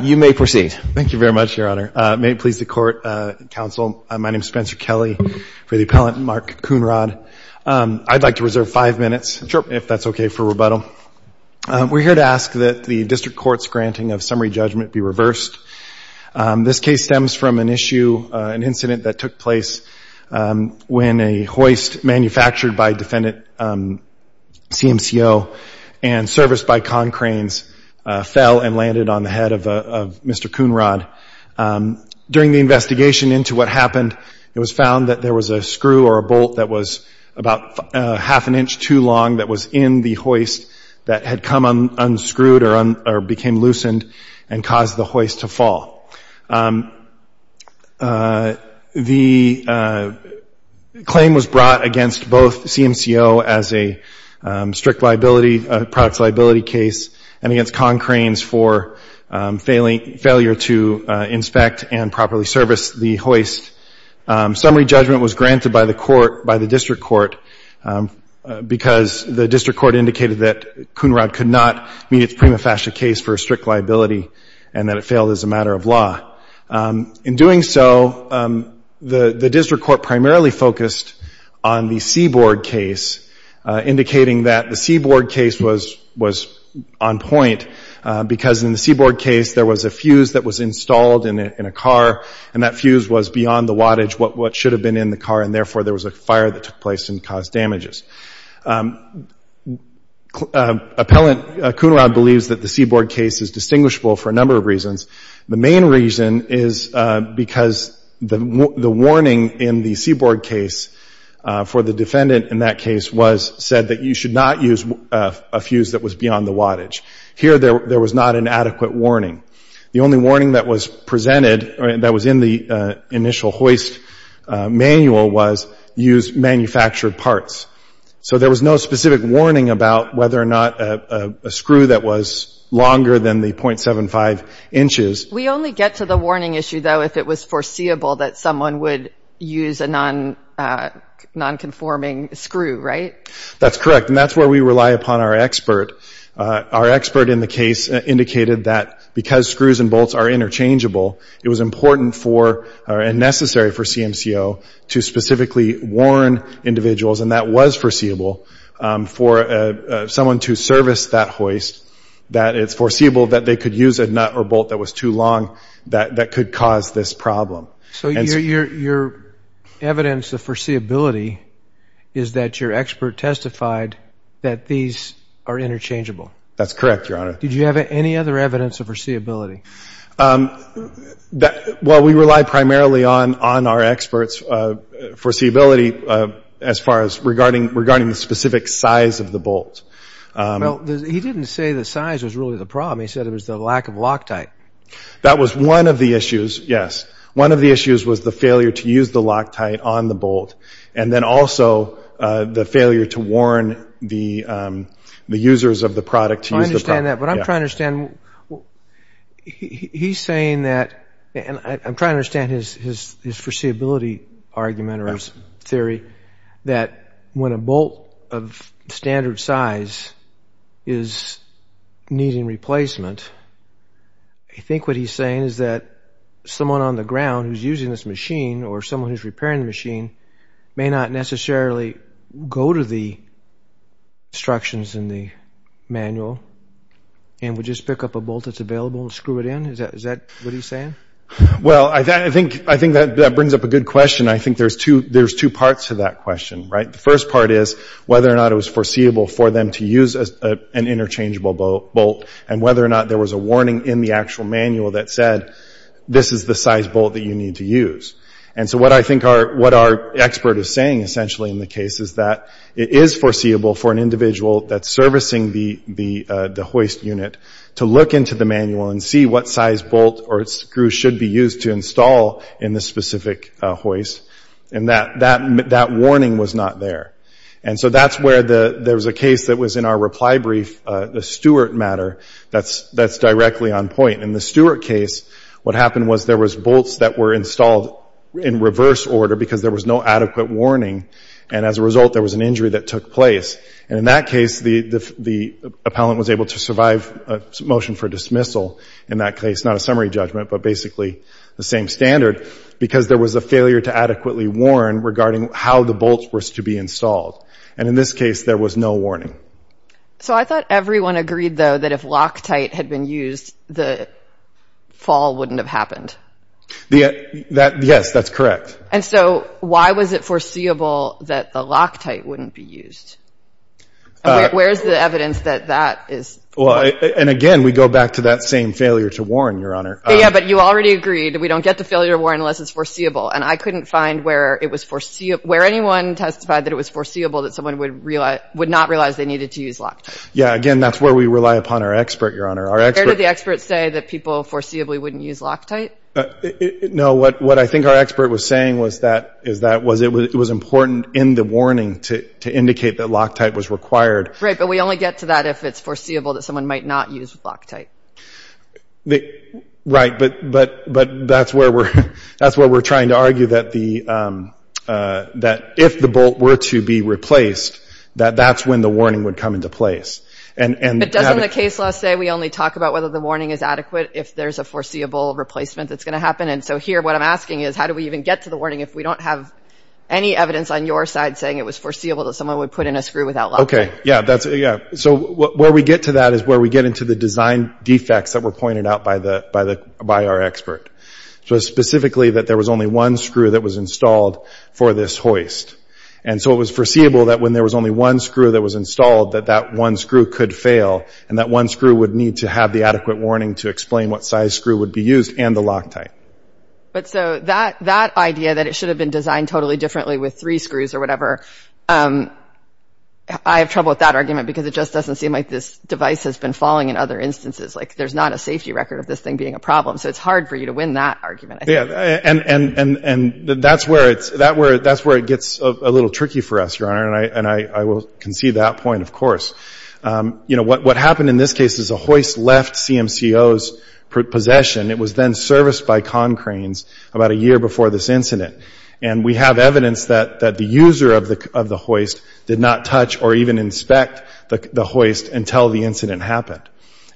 You may proceed. Thank you very much, Your Honor. May it please the Court, Counsel, my name is Spencer Kelley. For the appellant, Mark Coonrod. I'd like to reserve five minutes, if that's okay for rebuttal. We're here to ask that the District Court's granting of summary judgment be reversed. This case stems from an issue, an incident that took place when a hoist manufactured by defendant CMCO and serviced by Concranes fell and landed on the head of Mr. Coonrod. During the investigation into what happened, it was found that there was a screw or a bolt that was about half an inch too long that was in the hoist that had come unscrewed or became loosened and caused the hoist to fall. The claim was brought against both CMCO as a strict liability, products liability case, and against Concranes for failure to inspect and properly service the hoist. Summary judgment was granted by the District Court because the District Court indicated that Coonrod could not meet its prima facie case for a strict liability and that it failed as a matter of law. In doing so, the District Court primarily focused on the seaboard case, indicating that the seaboard case was on point because in the seaboard case there was a fuse that was installed in a car and that fuse was beyond the wattage what should have been in the car and therefore there was a fire that took place and caused damages. Appellant Coonrod believes that the seaboard case is distinguishable for a number of reasons. The main reason is because the warning in the seaboard case for the defendant in that case was said that you should not use a fuse that was beyond the wattage. Here there was not an adequate warning. The only warning that was presented that was in the initial hoist manual was used manufactured parts. So there was no specific warning about whether or not a screw that was longer than the .75 inches. We only get to the warning issue though if it was foreseeable that someone would use a non-conforming screw, right? That's correct and that's where we rely upon our expert. Our expert in the case indicated that because for CMCO to specifically warn individuals and that was foreseeable for someone to service that hoist that it's foreseeable that they could use a nut or bolt that was too long that could cause this problem. So your evidence of foreseeability is that your expert testified that these are interchangeable? That's correct, Your Honor. Did you have any other evidence of foreseeability? Well, we rely primarily on our experts foreseeability as far as regarding the specific size of the bolt. Well, he didn't say the size was really the problem. He said it was the lack of Loctite. That was one of the issues, yes. One of the issues was the failure to use the Loctite on the bolt and then also the failure to warn the users of the product. I understand that but I'm trying to understand his foreseeability argument or his theory that when a bolt of standard size is needing replacement, I think what he's saying is that someone on the ground who's using this machine or someone who's repairing the machine may not necessarily go to the instructions in the manual and would just pick up a bolt that's available and screw it in? Is that what he's saying? Well, I think that brings up a good question. I think there's two parts to that question, right? The first part is whether or not it was foreseeable for them to use an interchangeable bolt and whether or not there was a warning in the actual manual that said this is the size bolt that you need to use. And so what I think our expert is saying essentially in the case is that it is foreseeable for an individual that's servicing the hoist unit to look into the manual and see what size bolt or screw should be used to install in the specific hoist and that warning was not there. And so that's where there was a case that was in our reply brief, the Stewart matter, that's directly on point. In the Stewart case, what happened was there was bolts that were installed in reverse order because there was no adequate warning and as a result there was an injury that took place. And in that case, the appellant was able to survive a motion for dismissal in that case, not a summary judgment, but basically the same standard because there was a failure to adequately warn regarding how the bolts were to be installed. And in this case, there was no warning. So I thought everyone agreed though that if Loctite had been used, the fall wouldn't have happened. Yes, that's correct. And so why was it foreseeable that the Loctite wouldn't be used? Where's the evidence that that is? Well, and again, we go back to that same failure to warn, Your Honor. Yeah, but you already agreed we don't get the failure to warn unless it's foreseeable. And I couldn't find where it was foreseeable, where anyone testified that it was foreseeable that someone would not realize they needed to use Loctite. Where did the experts say that people foreseeably wouldn't use Loctite? No, what I think our expert was saying was that it was important in the warning to indicate that Loctite was required. Right, but we only get to that if it's foreseeable that someone might not use Loctite. Right, but that's where we're trying to argue that if the bolt were to be replaced, that that's when the warning would come into place. But doesn't the case law say we only talk about whether the warning is adequate if there's a foreseeable replacement that's going to happen? And so here, what I'm asking is, how do we even get to the warning if we don't have any evidence on your side saying it was foreseeable that someone would put in a screw without Loctite? Okay, yeah. So where we get to that is where we get into the design defects that were pointed out by our expert. So specifically, that there was only one screw that was installed for this hoist. And so it was foreseeable that when there was only one screw that was installed, that that one screw could fail. And that one screw would need to have the adequate warning to explain what size screw would be used and the Loctite. But so that idea that it should have been designed totally differently with three screws or whatever, I have trouble with that argument because it just doesn't seem like this device has been falling in other instances. Like, there's not a safety record of this thing being a problem. So it's hard for you to win that argument. Yeah. And that's where it gets a little tricky for us, Your Honor. And I will concede that point, of course. You know, what happened in this case is the hoist left CMCO's possession. It was then serviced by Concrane's about a year before this incident. And we have evidence that the user of the hoist did not touch or even inspect the hoist until the incident happened.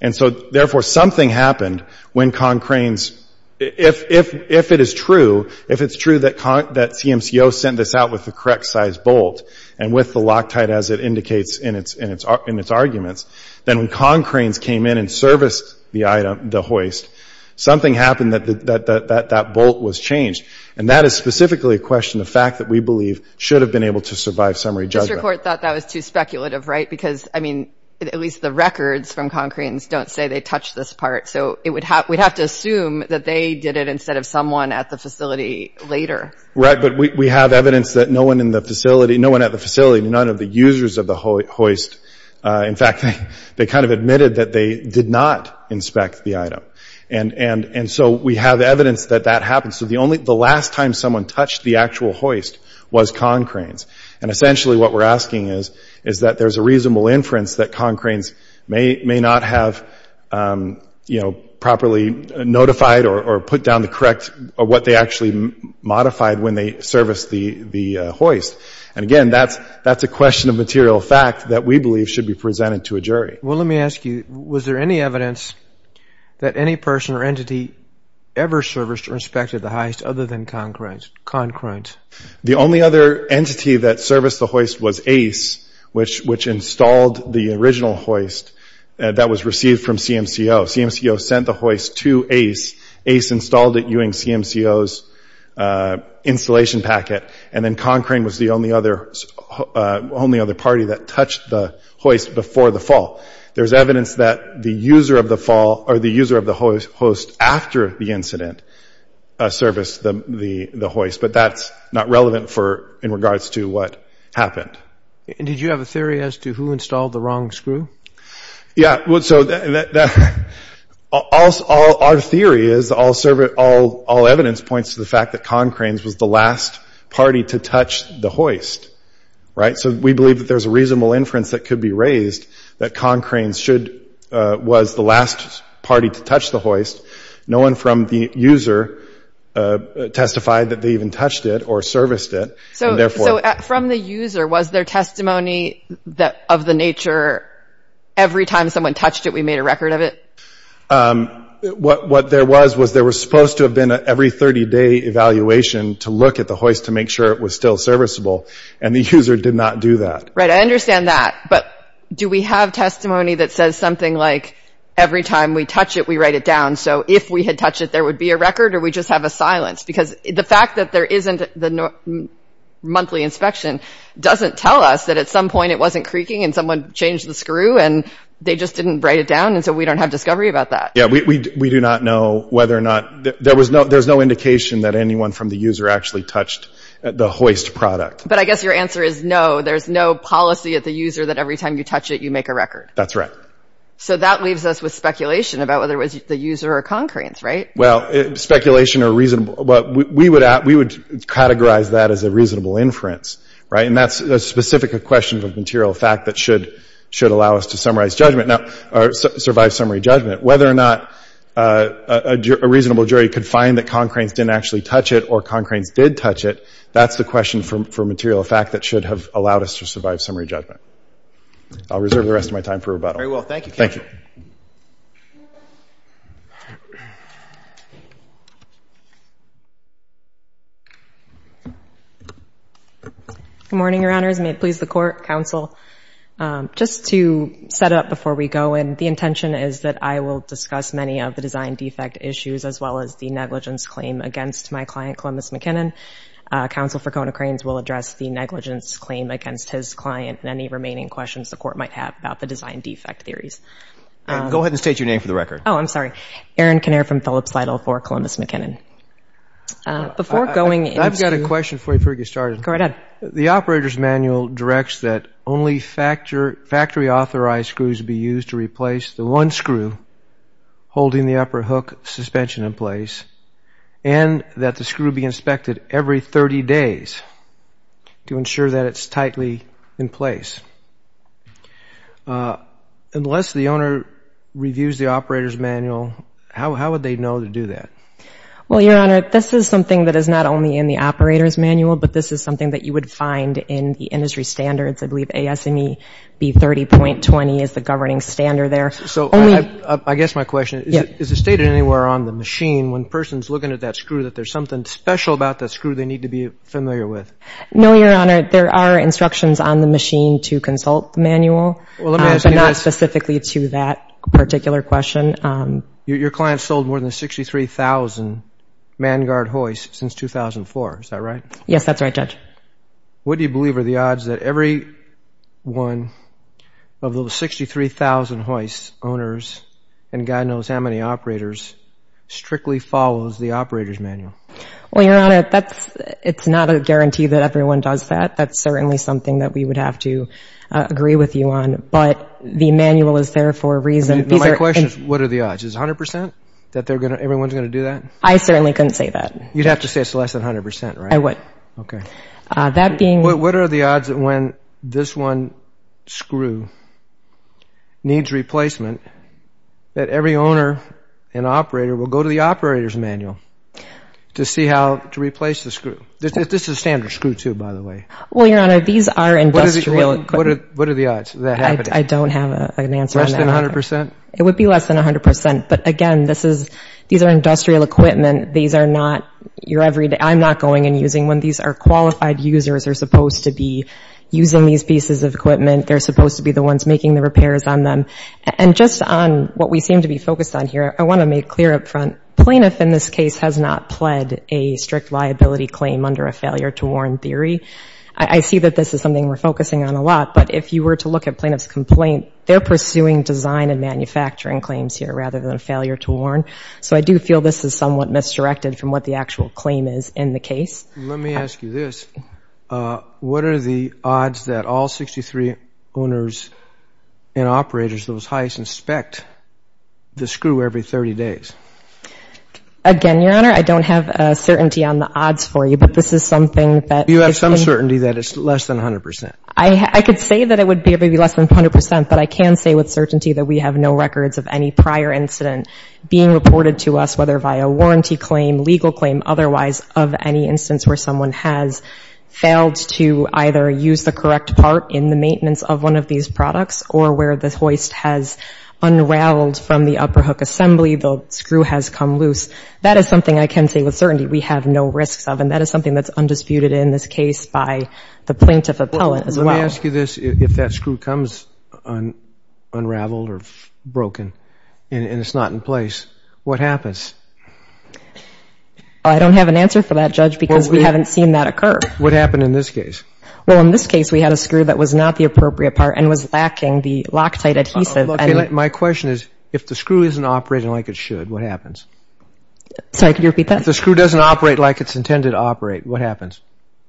And so, therefore, something happened when Concrane's, if it is true, if it's true that CMCO sent this out with the correct size bolt and with the Loctite, as it indicates in its arguments, then when Concrane's came in and serviced the item, the hoist, something happened that that bolt was changed. And that is specifically a question, the fact that we believe should have been able to survive summary judgment. Mr. Court thought that was too speculative, right? Because, I mean, at least the records from Concrane's don't say they touched this part. So it would have, we'd have to assume that they did it instead of someone at the facility later. Right. But we have evidence that no one in the facility, no one at the facility, none of the users of the hoist. In fact, they kind of admitted that they did not inspect the item. And so we have evidence that that happened. So the only, the last time someone touched the actual hoist was Concrane's. And essentially what we're asking is, is that there's a reasonable inference that Concrane's may not have, you know, properly notified or put down the correct, what they actually modified when they serviced the hoist. And again, that's a question of material fact that we believe should be presented to a jury. Well, let me ask you, was there any evidence that any person or entity ever serviced or inspected the hoist other than Concrane's? Concrane's. The only other entity that serviced the hoist was Ace, which installed the original hoist that was received from CMCO. CMCO sent the hoist to Ace. Ace installed it using CMCO's installation packet. And then Concrane was the only other, only other party that touched the hoist before the fall. There's evidence that the user of the fall, or the user of the hoist after the incident, serviced the hoist. But that's not relevant for, in regards to what happened. And did you have a theory as to who installed the wrong screw? Yeah. Well, so that, our theory is, all evidence points to the fact that Concrane's was the last party to touch the hoist. Right? So we believe that there's a reasonable inference that could be the hoist. No one from the user testified that they even touched it or serviced it. So therefore... So from the user, was there testimony of the nature, every time someone touched it, we made a record of it? What there was, was there was supposed to have been an every 30-day evaluation to look at the hoist to make sure it was still serviceable. And the user did not do that. Right. I So if we had touched it, there would be a record or we just have a silence? Because the fact that there isn't the monthly inspection doesn't tell us that at some point it wasn't creaking and someone changed the screw and they just didn't write it down. And so we don't have discovery about that. Yeah. We do not know whether or not there was no, there's no indication that anyone from the user actually touched the hoist product. But I guess your answer is no, there's no policy at the user that every So that leaves us with speculation about whether it was the user or Concranes, right? Well, speculation or reason, we would categorize that as a reasonable inference. Right. And that's a specific question of material fact that should allow us to summarize judgment or survive summary judgment. Whether or not a reasonable jury could find that Concranes didn't actually touch it or Concranes did touch it, that's the question for material fact that should have allowed us to survive summary judgment. I'll reserve the rest of my time for rebuttal. Very well. Thank you. Thank you. Good morning, Your Honors. May it please the court, counsel, just to set up before we go. And the intention is that I will discuss many of the design defect issues as well as the negligence claim against my client, Columbus McKinnon. Counsel for Concranes will address the negligence claim against his client and any remaining questions the court might have about the design defect theories. Go ahead and state your name for the record. Oh, I'm sorry. Erin Kinnear from Phillips Lytle for Columbus McKinnon. Before going, I've got a question for you before we get started. Go right ahead. The operator's manual directs that only factory authorized screws be used to replace the one screw holding the upper hook suspension in place and that the screw be inspected every 30 days to ensure that it's tightly in place. Unless the owner reviews the operator's manual, how would they know to do that? Well, Your Honor, this is something that is not only in the operator's manual, but this is something that you would find in the industry standards. I believe ASME B30.20 is the one that's on the machine. When a person's looking at that screw, that there's something special about that screw they need to be familiar with. No, Your Honor. There are instructions on the machine to consult the manual, but not specifically to that particular question. Your client sold more than 63,000 Mangard hoists since 2004. Is that right? Yes, that's right, Judge. What do you believe are the odds that every one of those 63,000 hoists owners and God knows how many operators strictly follows the operator's manual? Well, Your Honor, it's not a guarantee that everyone does that. That's certainly something that we would have to agree with you on, but the manual is there for a reason. My question is, what are the odds? Is it 100% that everyone's going to do that? I certainly couldn't say that. You'd have to say it's less than 100%, right? I would. Okay. What are the odds that when this one screw needs replacement, that every owner and operator will go to the operator's manual to see how to replace the screw? This is standard screw, too, by the way. Well, Your Honor, these are industrial equipment. What are the odds of that happening? I don't have an answer on that. Less than 100%? It would be less than 100%, but again, this is, these are industrial equipment. These are not your everyday, I'm not going and using one. These are qualified users. They're supposed to be using these pieces of equipment. They're supposed to be the ones making the repairs on them. And just on what we seem to be focused on here, I want to make clear up front, plaintiff in this case has not pled a strict liability claim under a failure to warn theory. I see that this is something we're focusing on a lot, but if you were to look at plaintiff's complaint, they're pursuing design and manufacturing claims here rather than failure to warn. So I do feel this is somewhat misdirected from what the actual claim is in the case. Let me ask you this. What are the odds that all 63 owners and operators of those heights inspect the screw every 30 days? Again, Your Honor, I don't have certainty on the odds for you, but this is something that Do you have some certainty that it's less than 100%? I could say that it would be maybe less than 100%, but I can say with certainty that we have no records of any prior incident being reported to us, whether via warranty claim, legal claim, otherwise of any instance where someone has failed to either use the correct part in the maintenance of one of these products or where the hoist has unraveled from the upper hook assembly, the screw has come loose. That is something I can say with certainty we have no risks of, and that is something that's undisputed in this case by the plaintiff appellate as well. Let me ask you this. If that screw comes unraveled or broken and it's not in place, what happens? I don't have an answer for that, Judge, because we haven't seen that occur. What happened in this case? Well, in this case, we had a screw that was not the appropriate part and was lacking the Loctite adhesive. My question is, if the screw isn't operating like it should, what happens? Sorry, could you repeat that? If the screw doesn't operate like it's intended to operate, what happens?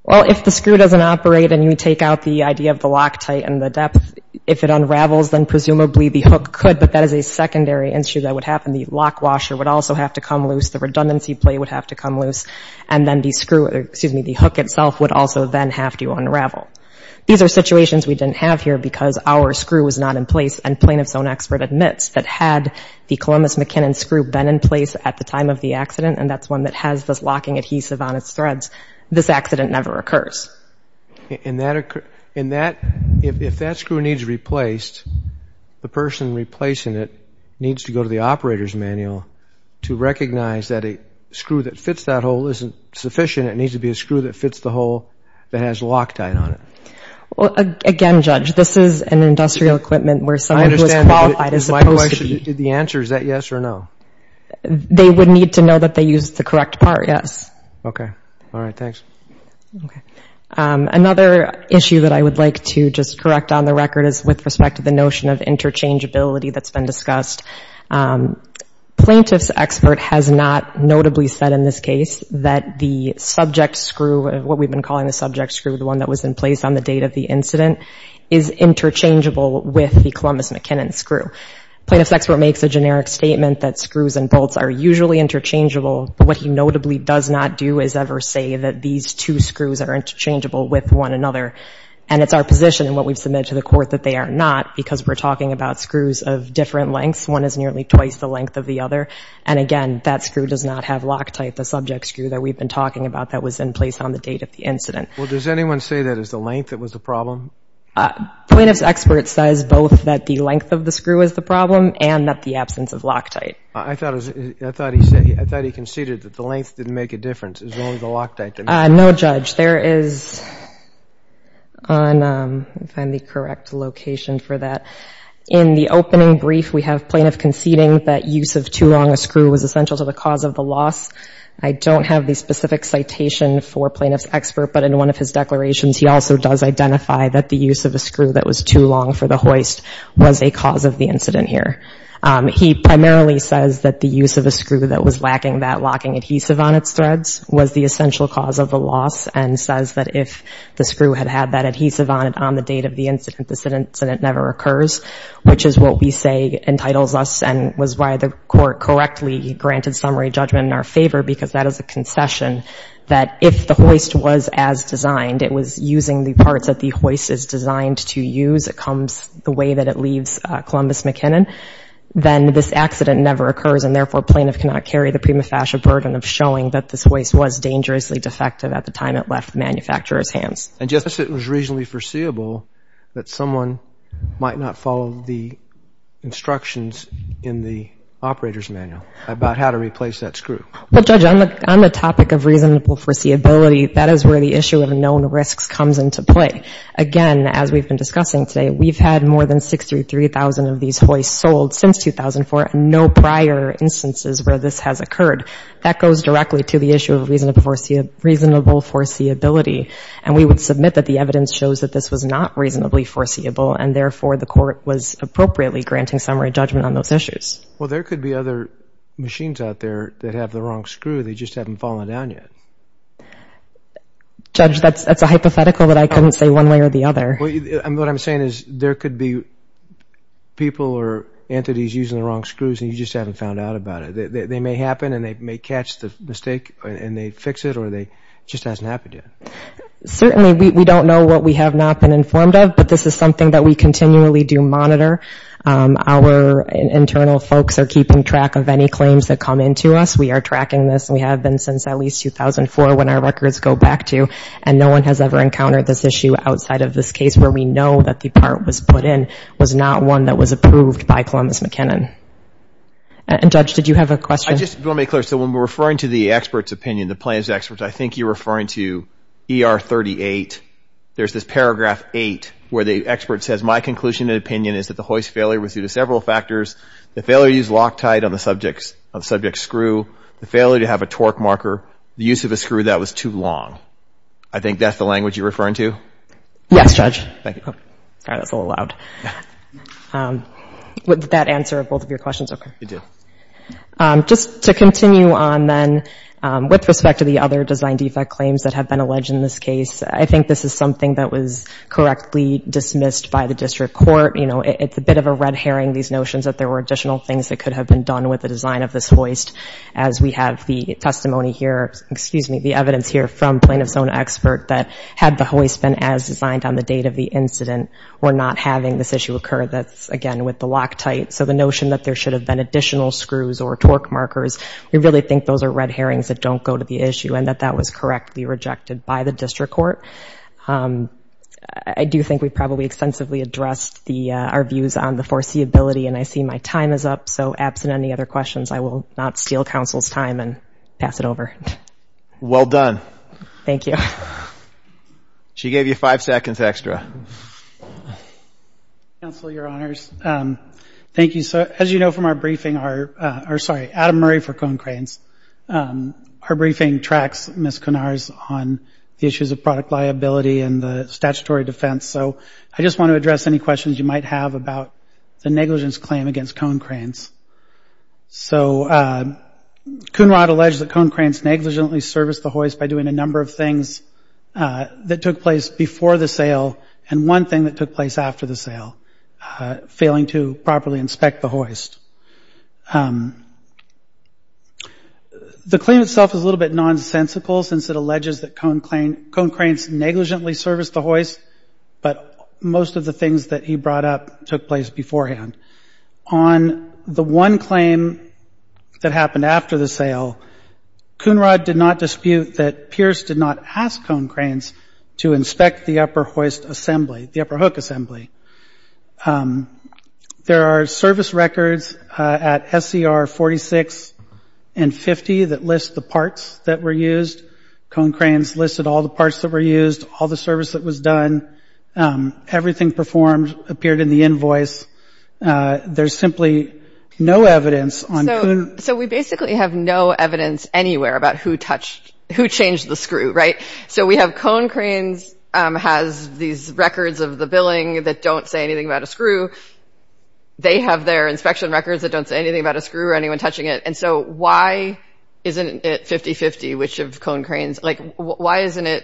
Well, if the screw doesn't operate and you take out the idea of the Loctite and the depth, if it unravels, then presumably the hook could, but that is a secondary issue that would happen. The lock washer would also have to come loose. The redundancy plate would have to come loose, and then the screw, excuse me, the hook itself would also then have to unravel. These are situations we didn't have here because our screw was not in place, and plaintiff's own expert admits that had the Columbus McKinnon screw been in place at the time of the accident, and that's one that has this locking adhesive on its threads, this accident never occurs. If that screw needs replaced, the person replacing it needs to go to the operator's manual to recognize that a screw that fits that hole isn't sufficient. It needs to be a screw that fits the hole that has Loctite on it. Again, Judge, this is an industrial equipment where someone who is qualified is supposed to be. The answer, is that yes or no? They would need to know that they used the correct part, yes. Okay. All right. Thanks. Another issue that I would like to just correct on the record is with respect to the notion of interchangeability that's been discussed. Plaintiff's expert has not notably said in this case that the subject screw, what we've been calling the subject screw, the one that was in place on the date of the incident, is interchangeable with the Columbus McKinnon screw. Plaintiff's expert makes a generic statement that screws and bolts are usually interchangeable, but what he notably does not do is ever say that these two screws are interchangeable with one another, and it's our position in what we've submitted to the court that they are not because we're talking about two different lengths, one is nearly twice the length of the other, and again, that screw does not have Loctite, the subject screw that we've been talking about that was in place on the date of the incident. Well, does anyone say that it's the length that was the problem? Plaintiff's expert says both that the length of the screw is the problem and that the absence of Loctite. I thought he conceded that the length didn't make a difference, it was only the Loctite that made a difference. No, Judge, there is, if I'm in the correct location for that, in the opening brief we have Plaintiff conceding that use of too long a screw was essential to the cause of the loss. I don't have the specific citation for Plaintiff's expert, but in one of his declarations he also does identify that the use of a screw that was too long for the hoist was a cause of the incident here. He primarily says that the use of a screw that was lacking that locking adhesive on its threads was the essential cause of the loss, and says that if the screw had had that adhesive on it on the date of the incident, this incident never occurs, which is what we say entitles us and was why the Court correctly granted summary judgment in our favor, because that is a concession, that if the hoist was as designed, it was using the parts that the manufacturer was using, and that if the hoist was not designed, it was using the parts that the manufacturer was using, then this accident never occurs, and therefore Plaintiff cannot carry the prima facie burden of showing that this hoist was dangerously defective at the time it left the manufacturer's hands. And just as it was reasonably foreseeable that someone might not follow the instructions in the operator's manual about how to replace that screw. Well, Judge, on the topic of reasonable foreseeability, that is where the issue of known risks comes into play. Again, as we've been discussing today, we've had more than 63,000 of these hoists sold since 2004, and no prior instances where this has occurred. That goes directly to the issue of reasonable foreseeability, and we would submit that the evidence shows that this was not reasonably foreseeable, and therefore the Court was appropriately granting summary judgment on those issues. Well, there could be other machines out there that have the wrong screw. They just haven't fallen down yet. Judge, that's a hypothetical that I couldn't say one way or the other. What I'm saying is there could be people or entities using the wrong screws, and you just haven't found out about it. They may happen, and they may catch the mistake, and they fix it, or it just hasn't happened yet. Certainly. We don't know what we have not been informed of, but this is something that we continually do monitor. Our internal folks are keeping track of any claims that come into us. We are tracking this. We have been since at least 2004 when our records go back to, and no one has ever encountered this issue outside of this case where we know that the part was put in was not one that was approved by Columbus McKinnon. And, Judge, did you have a question? I just want to be clear. So when we're referring to the expert's opinion, the plaintiff's opinion, I think you're referring to ER 38. There's this mistake on the subject's screw, the failure to have a torque marker, the use of a screw that was too long. I think that's the language you're referring to? Yes, Judge. All right. That's a little loud. Did that answer both of your questions? Okay. It did. Just to continue on, then, with respect to the other design defect claims that have been alleged in this case, I think this is something that was correctly dismissed by the district court. You know, it's a bit of a red herring, these notions that there were additional things that could have been done with the design of this hoist, as we have the testimony here, excuse me, the evidence here from plaintiff's own expert that had the hoist been as designed on the date of the incident, we're not having this issue occur. That's, again, with the Loctite. So the notion that there were additional things that could have been done with the design defects or torque markers, we really think those are red herrings that don't go to the issue, and that that was correctly rejected by the district court. I do think we probably extensively addressed our views on the foreseeability, and I see my time is up. So absent any other questions, I will not steal counsel's time and pass it over. Well done. Thank you. She gave you five seconds extra. Counsel, your honors, thank you. So as you know from our briefing, sorry, Adam Murray for Cone Cranes, our briefing tracks Ms. Cunard's on the issues of product liability and the statutory defense. So I just want to address any questions you might have about the negligence claim against Cone Cranes. So Cunard alleged that Cone Cranes negligently serviced the hoist by doing a number of things, including one thing that took place before the sale and one thing that took place after the sale, failing to properly inspect the hoist. The claim itself is a little bit nonsensical since it alleges that Cone Cranes negligently serviced the hoist, but most of the things that he brought up took place beforehand. On the one claim that happened after the sale, Cunard did not dispute that Pierce did not ask for Cone Cranes to inspect the upper hoist assembly, the upper hook assembly. There are service records at SCR 46 and 50 that list the parts that were used. Cone Cranes listed all the parts that were used, all the service that was done. Everything performed appeared in the invoice. There's simply no evidence on who... So we basically have no evidence anywhere about who touched, who changed the screw, right? So we have Cone Cranes has these records of the billing that don't say anything about a screw. They have their inspection records that don't say anything about a screw or anyone touching it. And so why isn't it 50-50 which of Cone Cranes, like why isn't it,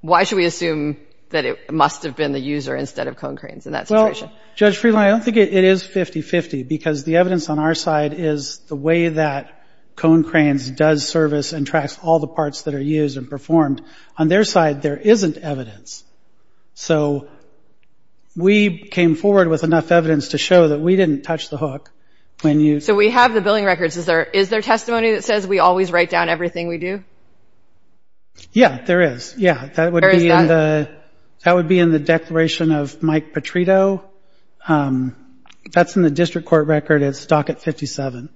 why should we assume that it must have been the user instead of Cone Cranes in that situation? Well, Judge Friedland, I don't think it is 50-50 because the evidence on our side is the way that Cone Cranes does service and tracks all the parts that are used and performed. On their side, there isn't evidence. So we came forward with enough evidence to show that we didn't touch the hook when you... So we have the billing records. Is there testimony that says we always write down everything we do? Yeah, there is. Yeah. Where is that? That would be in the declaration of Mike Petrito. That's in the district court record. It's docket 57.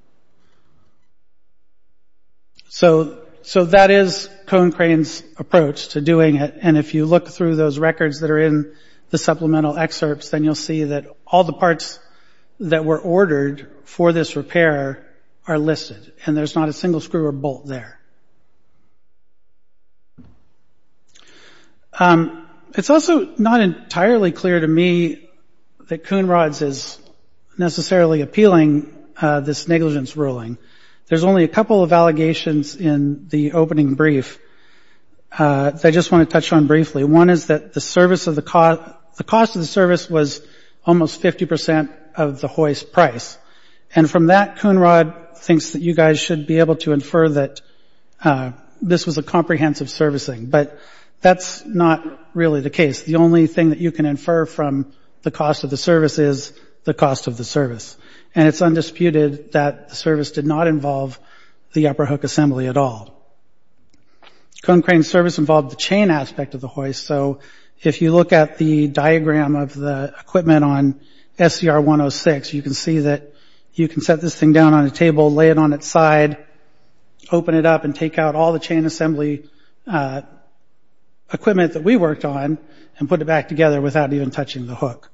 So that is Cone Cranes' approach to doing it. And if you look through those records that are in the supplemental excerpts, then you'll see that all the parts that were ordered for this repair are listed. And there's not a single screw or bolt there. It's also not entirely clear to me that Coon Rods is necessarily appealing this negligence to the public. There's only a couple of allegations in the opening brief that I just want to touch on briefly. One is that the cost of the service was almost 50% of the hoist price. And from that, Coon Rod thinks that you guys should be able to infer that this was a comprehensive servicing. But that's not really the case. The only thing that you can infer from the cost of the service is the cost of the service. And it's undisputed that the service did not involve the upper hook assembly at all. Cone Cranes' service involved the chain aspect of the hoist. So if you look at the diagram of the equipment on SCR-106, you can see that you can set this thing down on a table, lay it on its side, open it up and take out all the chain assembly equipment that we worked on and put it back together without even touching the hook.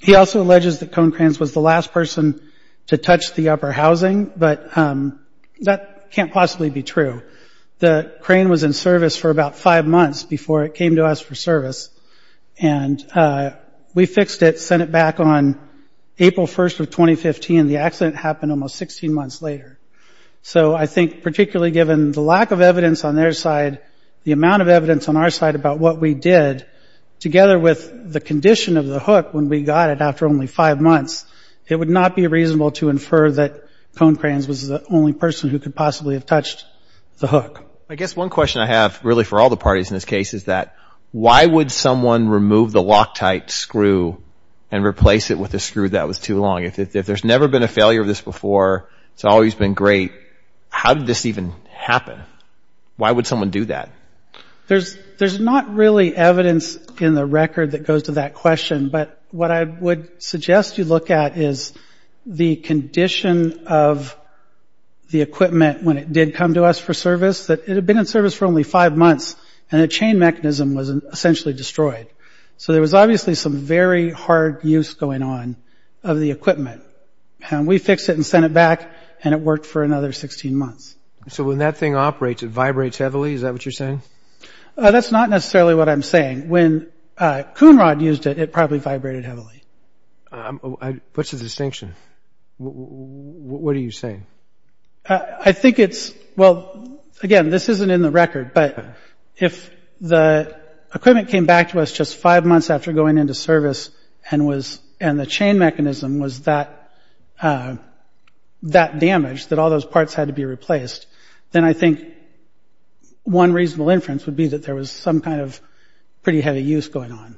He also alleges that Cone Cranes was the last person to touch the upper housing, but that can't possibly be true. The crane was in service for about five months before it came to us for service. And we fixed it, sent it back on April 1st of 2015. The accident happened almost 16 months later. So I think particularly given the lack of evidence on their side, the amount of time that we spent with the condition of the hook when we got it after only five months, it would not be reasonable to infer that Cone Cranes was the only person who could possibly have touched the hook. I guess one question I have really for all the parties in this case is that why would someone remove the Loctite screw and replace it with a screw that was too long? If there's never been a failure of this before, it's always been great, how did this even happen? Why would someone do that? There's not really evidence in the record that goes to that question, but what I would suggest you look at is the condition of the equipment when it did come to us for service, that it had been in service for only five months and the chain mechanism was essentially destroyed. So there was obviously some very hard use going on of the equipment. We fixed it and sent it back and it was in good condition. If the thing operates, it vibrates heavily, is that what you're saying? That's not necessarily what I'm saying. When Coonrod used it, it probably vibrated heavily. What's the distinction? What are you saying? I think it's, well, again, this isn't in the record, but if the equipment came back to us just five months after going into service and the chain mechanism was that damaged, that all those parts had to be replaced, then I think one reasonable inference would be that there was some kind of pretty heavy use going on.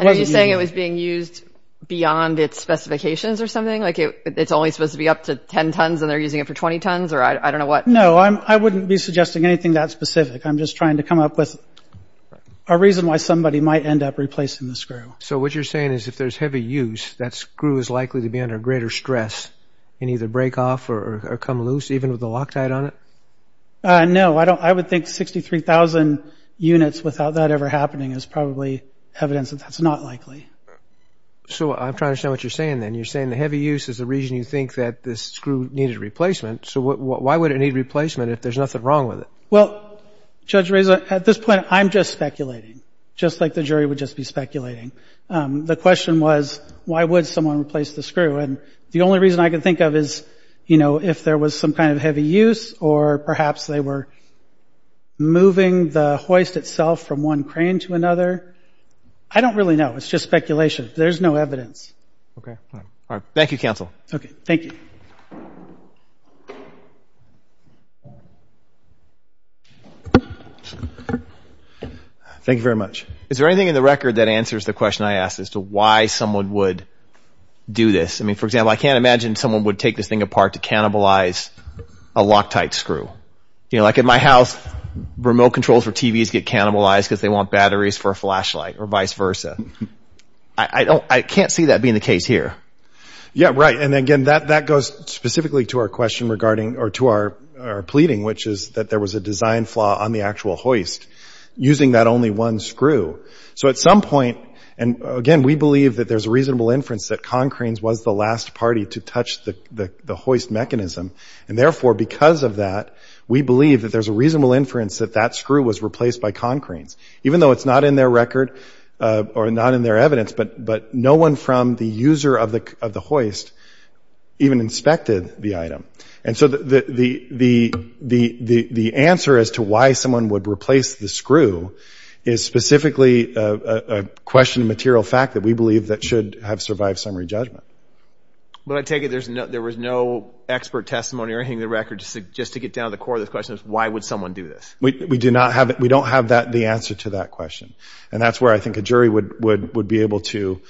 Are you saying it was being used beyond its specifications or something? It's only supposed to be up to 10 tons and they're using it for 20 tons or I don't know what? No, I wouldn't be suggesting anything that specific. I'm just trying to come up with a reason why somebody might end up replacing the screw. So what you're saying is if there's heavy use, that screw is likely to be under greater stress and either break off or come loose, even with the Loctite on it? No, I would think 63,000 units without that ever happening is probably evidence that that's not likely. So I'm trying to understand what you're saying then. You're saying the heavy use is the reason you think that this screw needed replacement if there's nothing wrong with it? Well, Judge Reza, at this point I'm just speculating, just like the jury would just be speculating. The question was why would someone replace the screw? And the only reason I can think of is if there was some kind of heavy use or perhaps they were moving the hoist itself from one crane to another. I don't really know. It's just speculation. There's no evidence. Thank you very much. Is there anything in the record that answers the question I asked as to why someone would do this? I mean, for example, I can't imagine someone would take this thing apart to cannibalize a Loctite screw. You know, like at my house, remote controls for TVs get cannibalized because they want batteries for a flashlight or vice versa. I can't see that being the case here. Yeah, right. And again, that goes specifically to our question regarding, or to our pleading, which is that there was a design flaw on the actual hoist using that only one screw. So at some point, and again, we believe that there's a reasonable inference that Concranes was the last party to touch the hoist mechanism. And therefore, because of that, we believe that there's a reasonable inference that that screw was replaced by Concranes. Even though it's not in their record or not in their evidence, but no one from the user of the hoist even inspected the item. And so the answer as to why someone would replace the screw is specifically a question of material fact that we believe that should have survived summary judgment. But I take it there was no expert testimony or anything in the record just to get down to the core of the question of why would Concranes be the answer to that question? And that's where I think a jury would be able to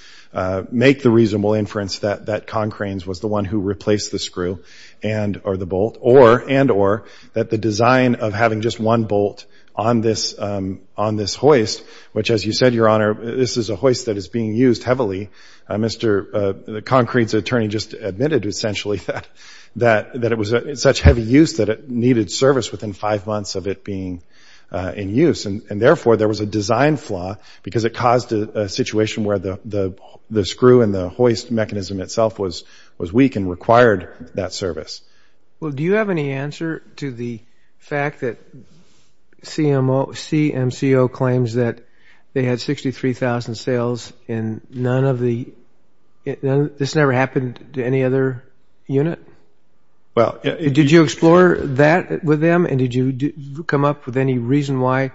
make the reasonable inference that Concranes was the one who replaced the screw and or the bolt and or that the design of having just one bolt on this hoist, which as you said, Your Honor, this is a hoist that is being used heavily. Mr. Concranes' attorney just admitted essentially that it was such heavy use that it needed service within five months of it being in use. And therefore, there was a design flaw because it caused a situation where the screw and the hoist mechanism itself was weak and required that service. Well, do you have any answer to the fact that CMCO claims that they had 63,000 sales and this never happened to any other unit? Well, did you explore that with them? And did you come up with any reason why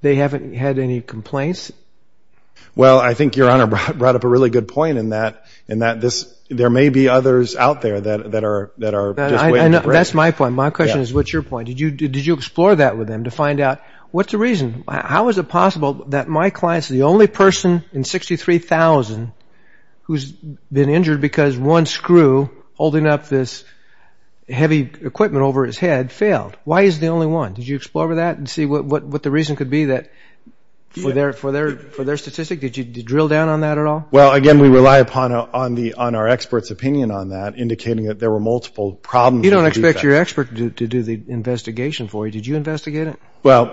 they haven't had any complaints? Well, I think Your Honor brought up a really good point in that this there may be others out there that are just waiting. That's my point. My question is what's your point? Did you explore that with them to find out what's the reason? How is it possible that my client's the only person in 63,000 who's been injured because one screw holding up this hoist heavy equipment over his head failed? Why is he the only one? Did you explore that and see what the reason could be for their statistic? Did you drill down on that at all? You don't expect your expert to do the investigation for you. Did you investigate it? Well,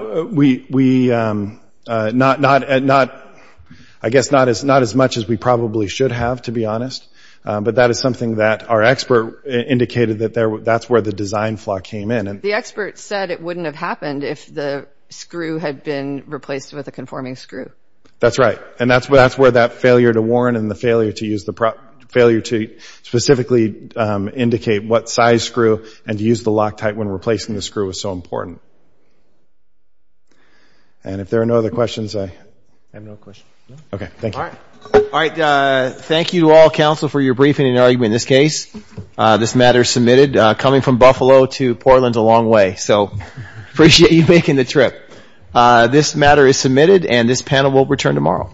I guess not as much as we probably should have, to be honest. But that is something that our expert in terms of design flaw indicated that that's where the design flaw came in. The expert said it wouldn't have happened if the screw had been replaced with a conforming screw. That's right. And that's where that failure to warn and the failure to specifically indicate what size screw and to use the Loctite when replacing the screw was so important. And if there are no other questions, I have no questions. Okay. Thank you. All right. Thank you to all counsel for your briefing and argument in this case. This matter is submitted. Coming from Buffalo to Portland is a long way. So appreciate you making the trip. This matter is submitted and this panel will return tomorrow.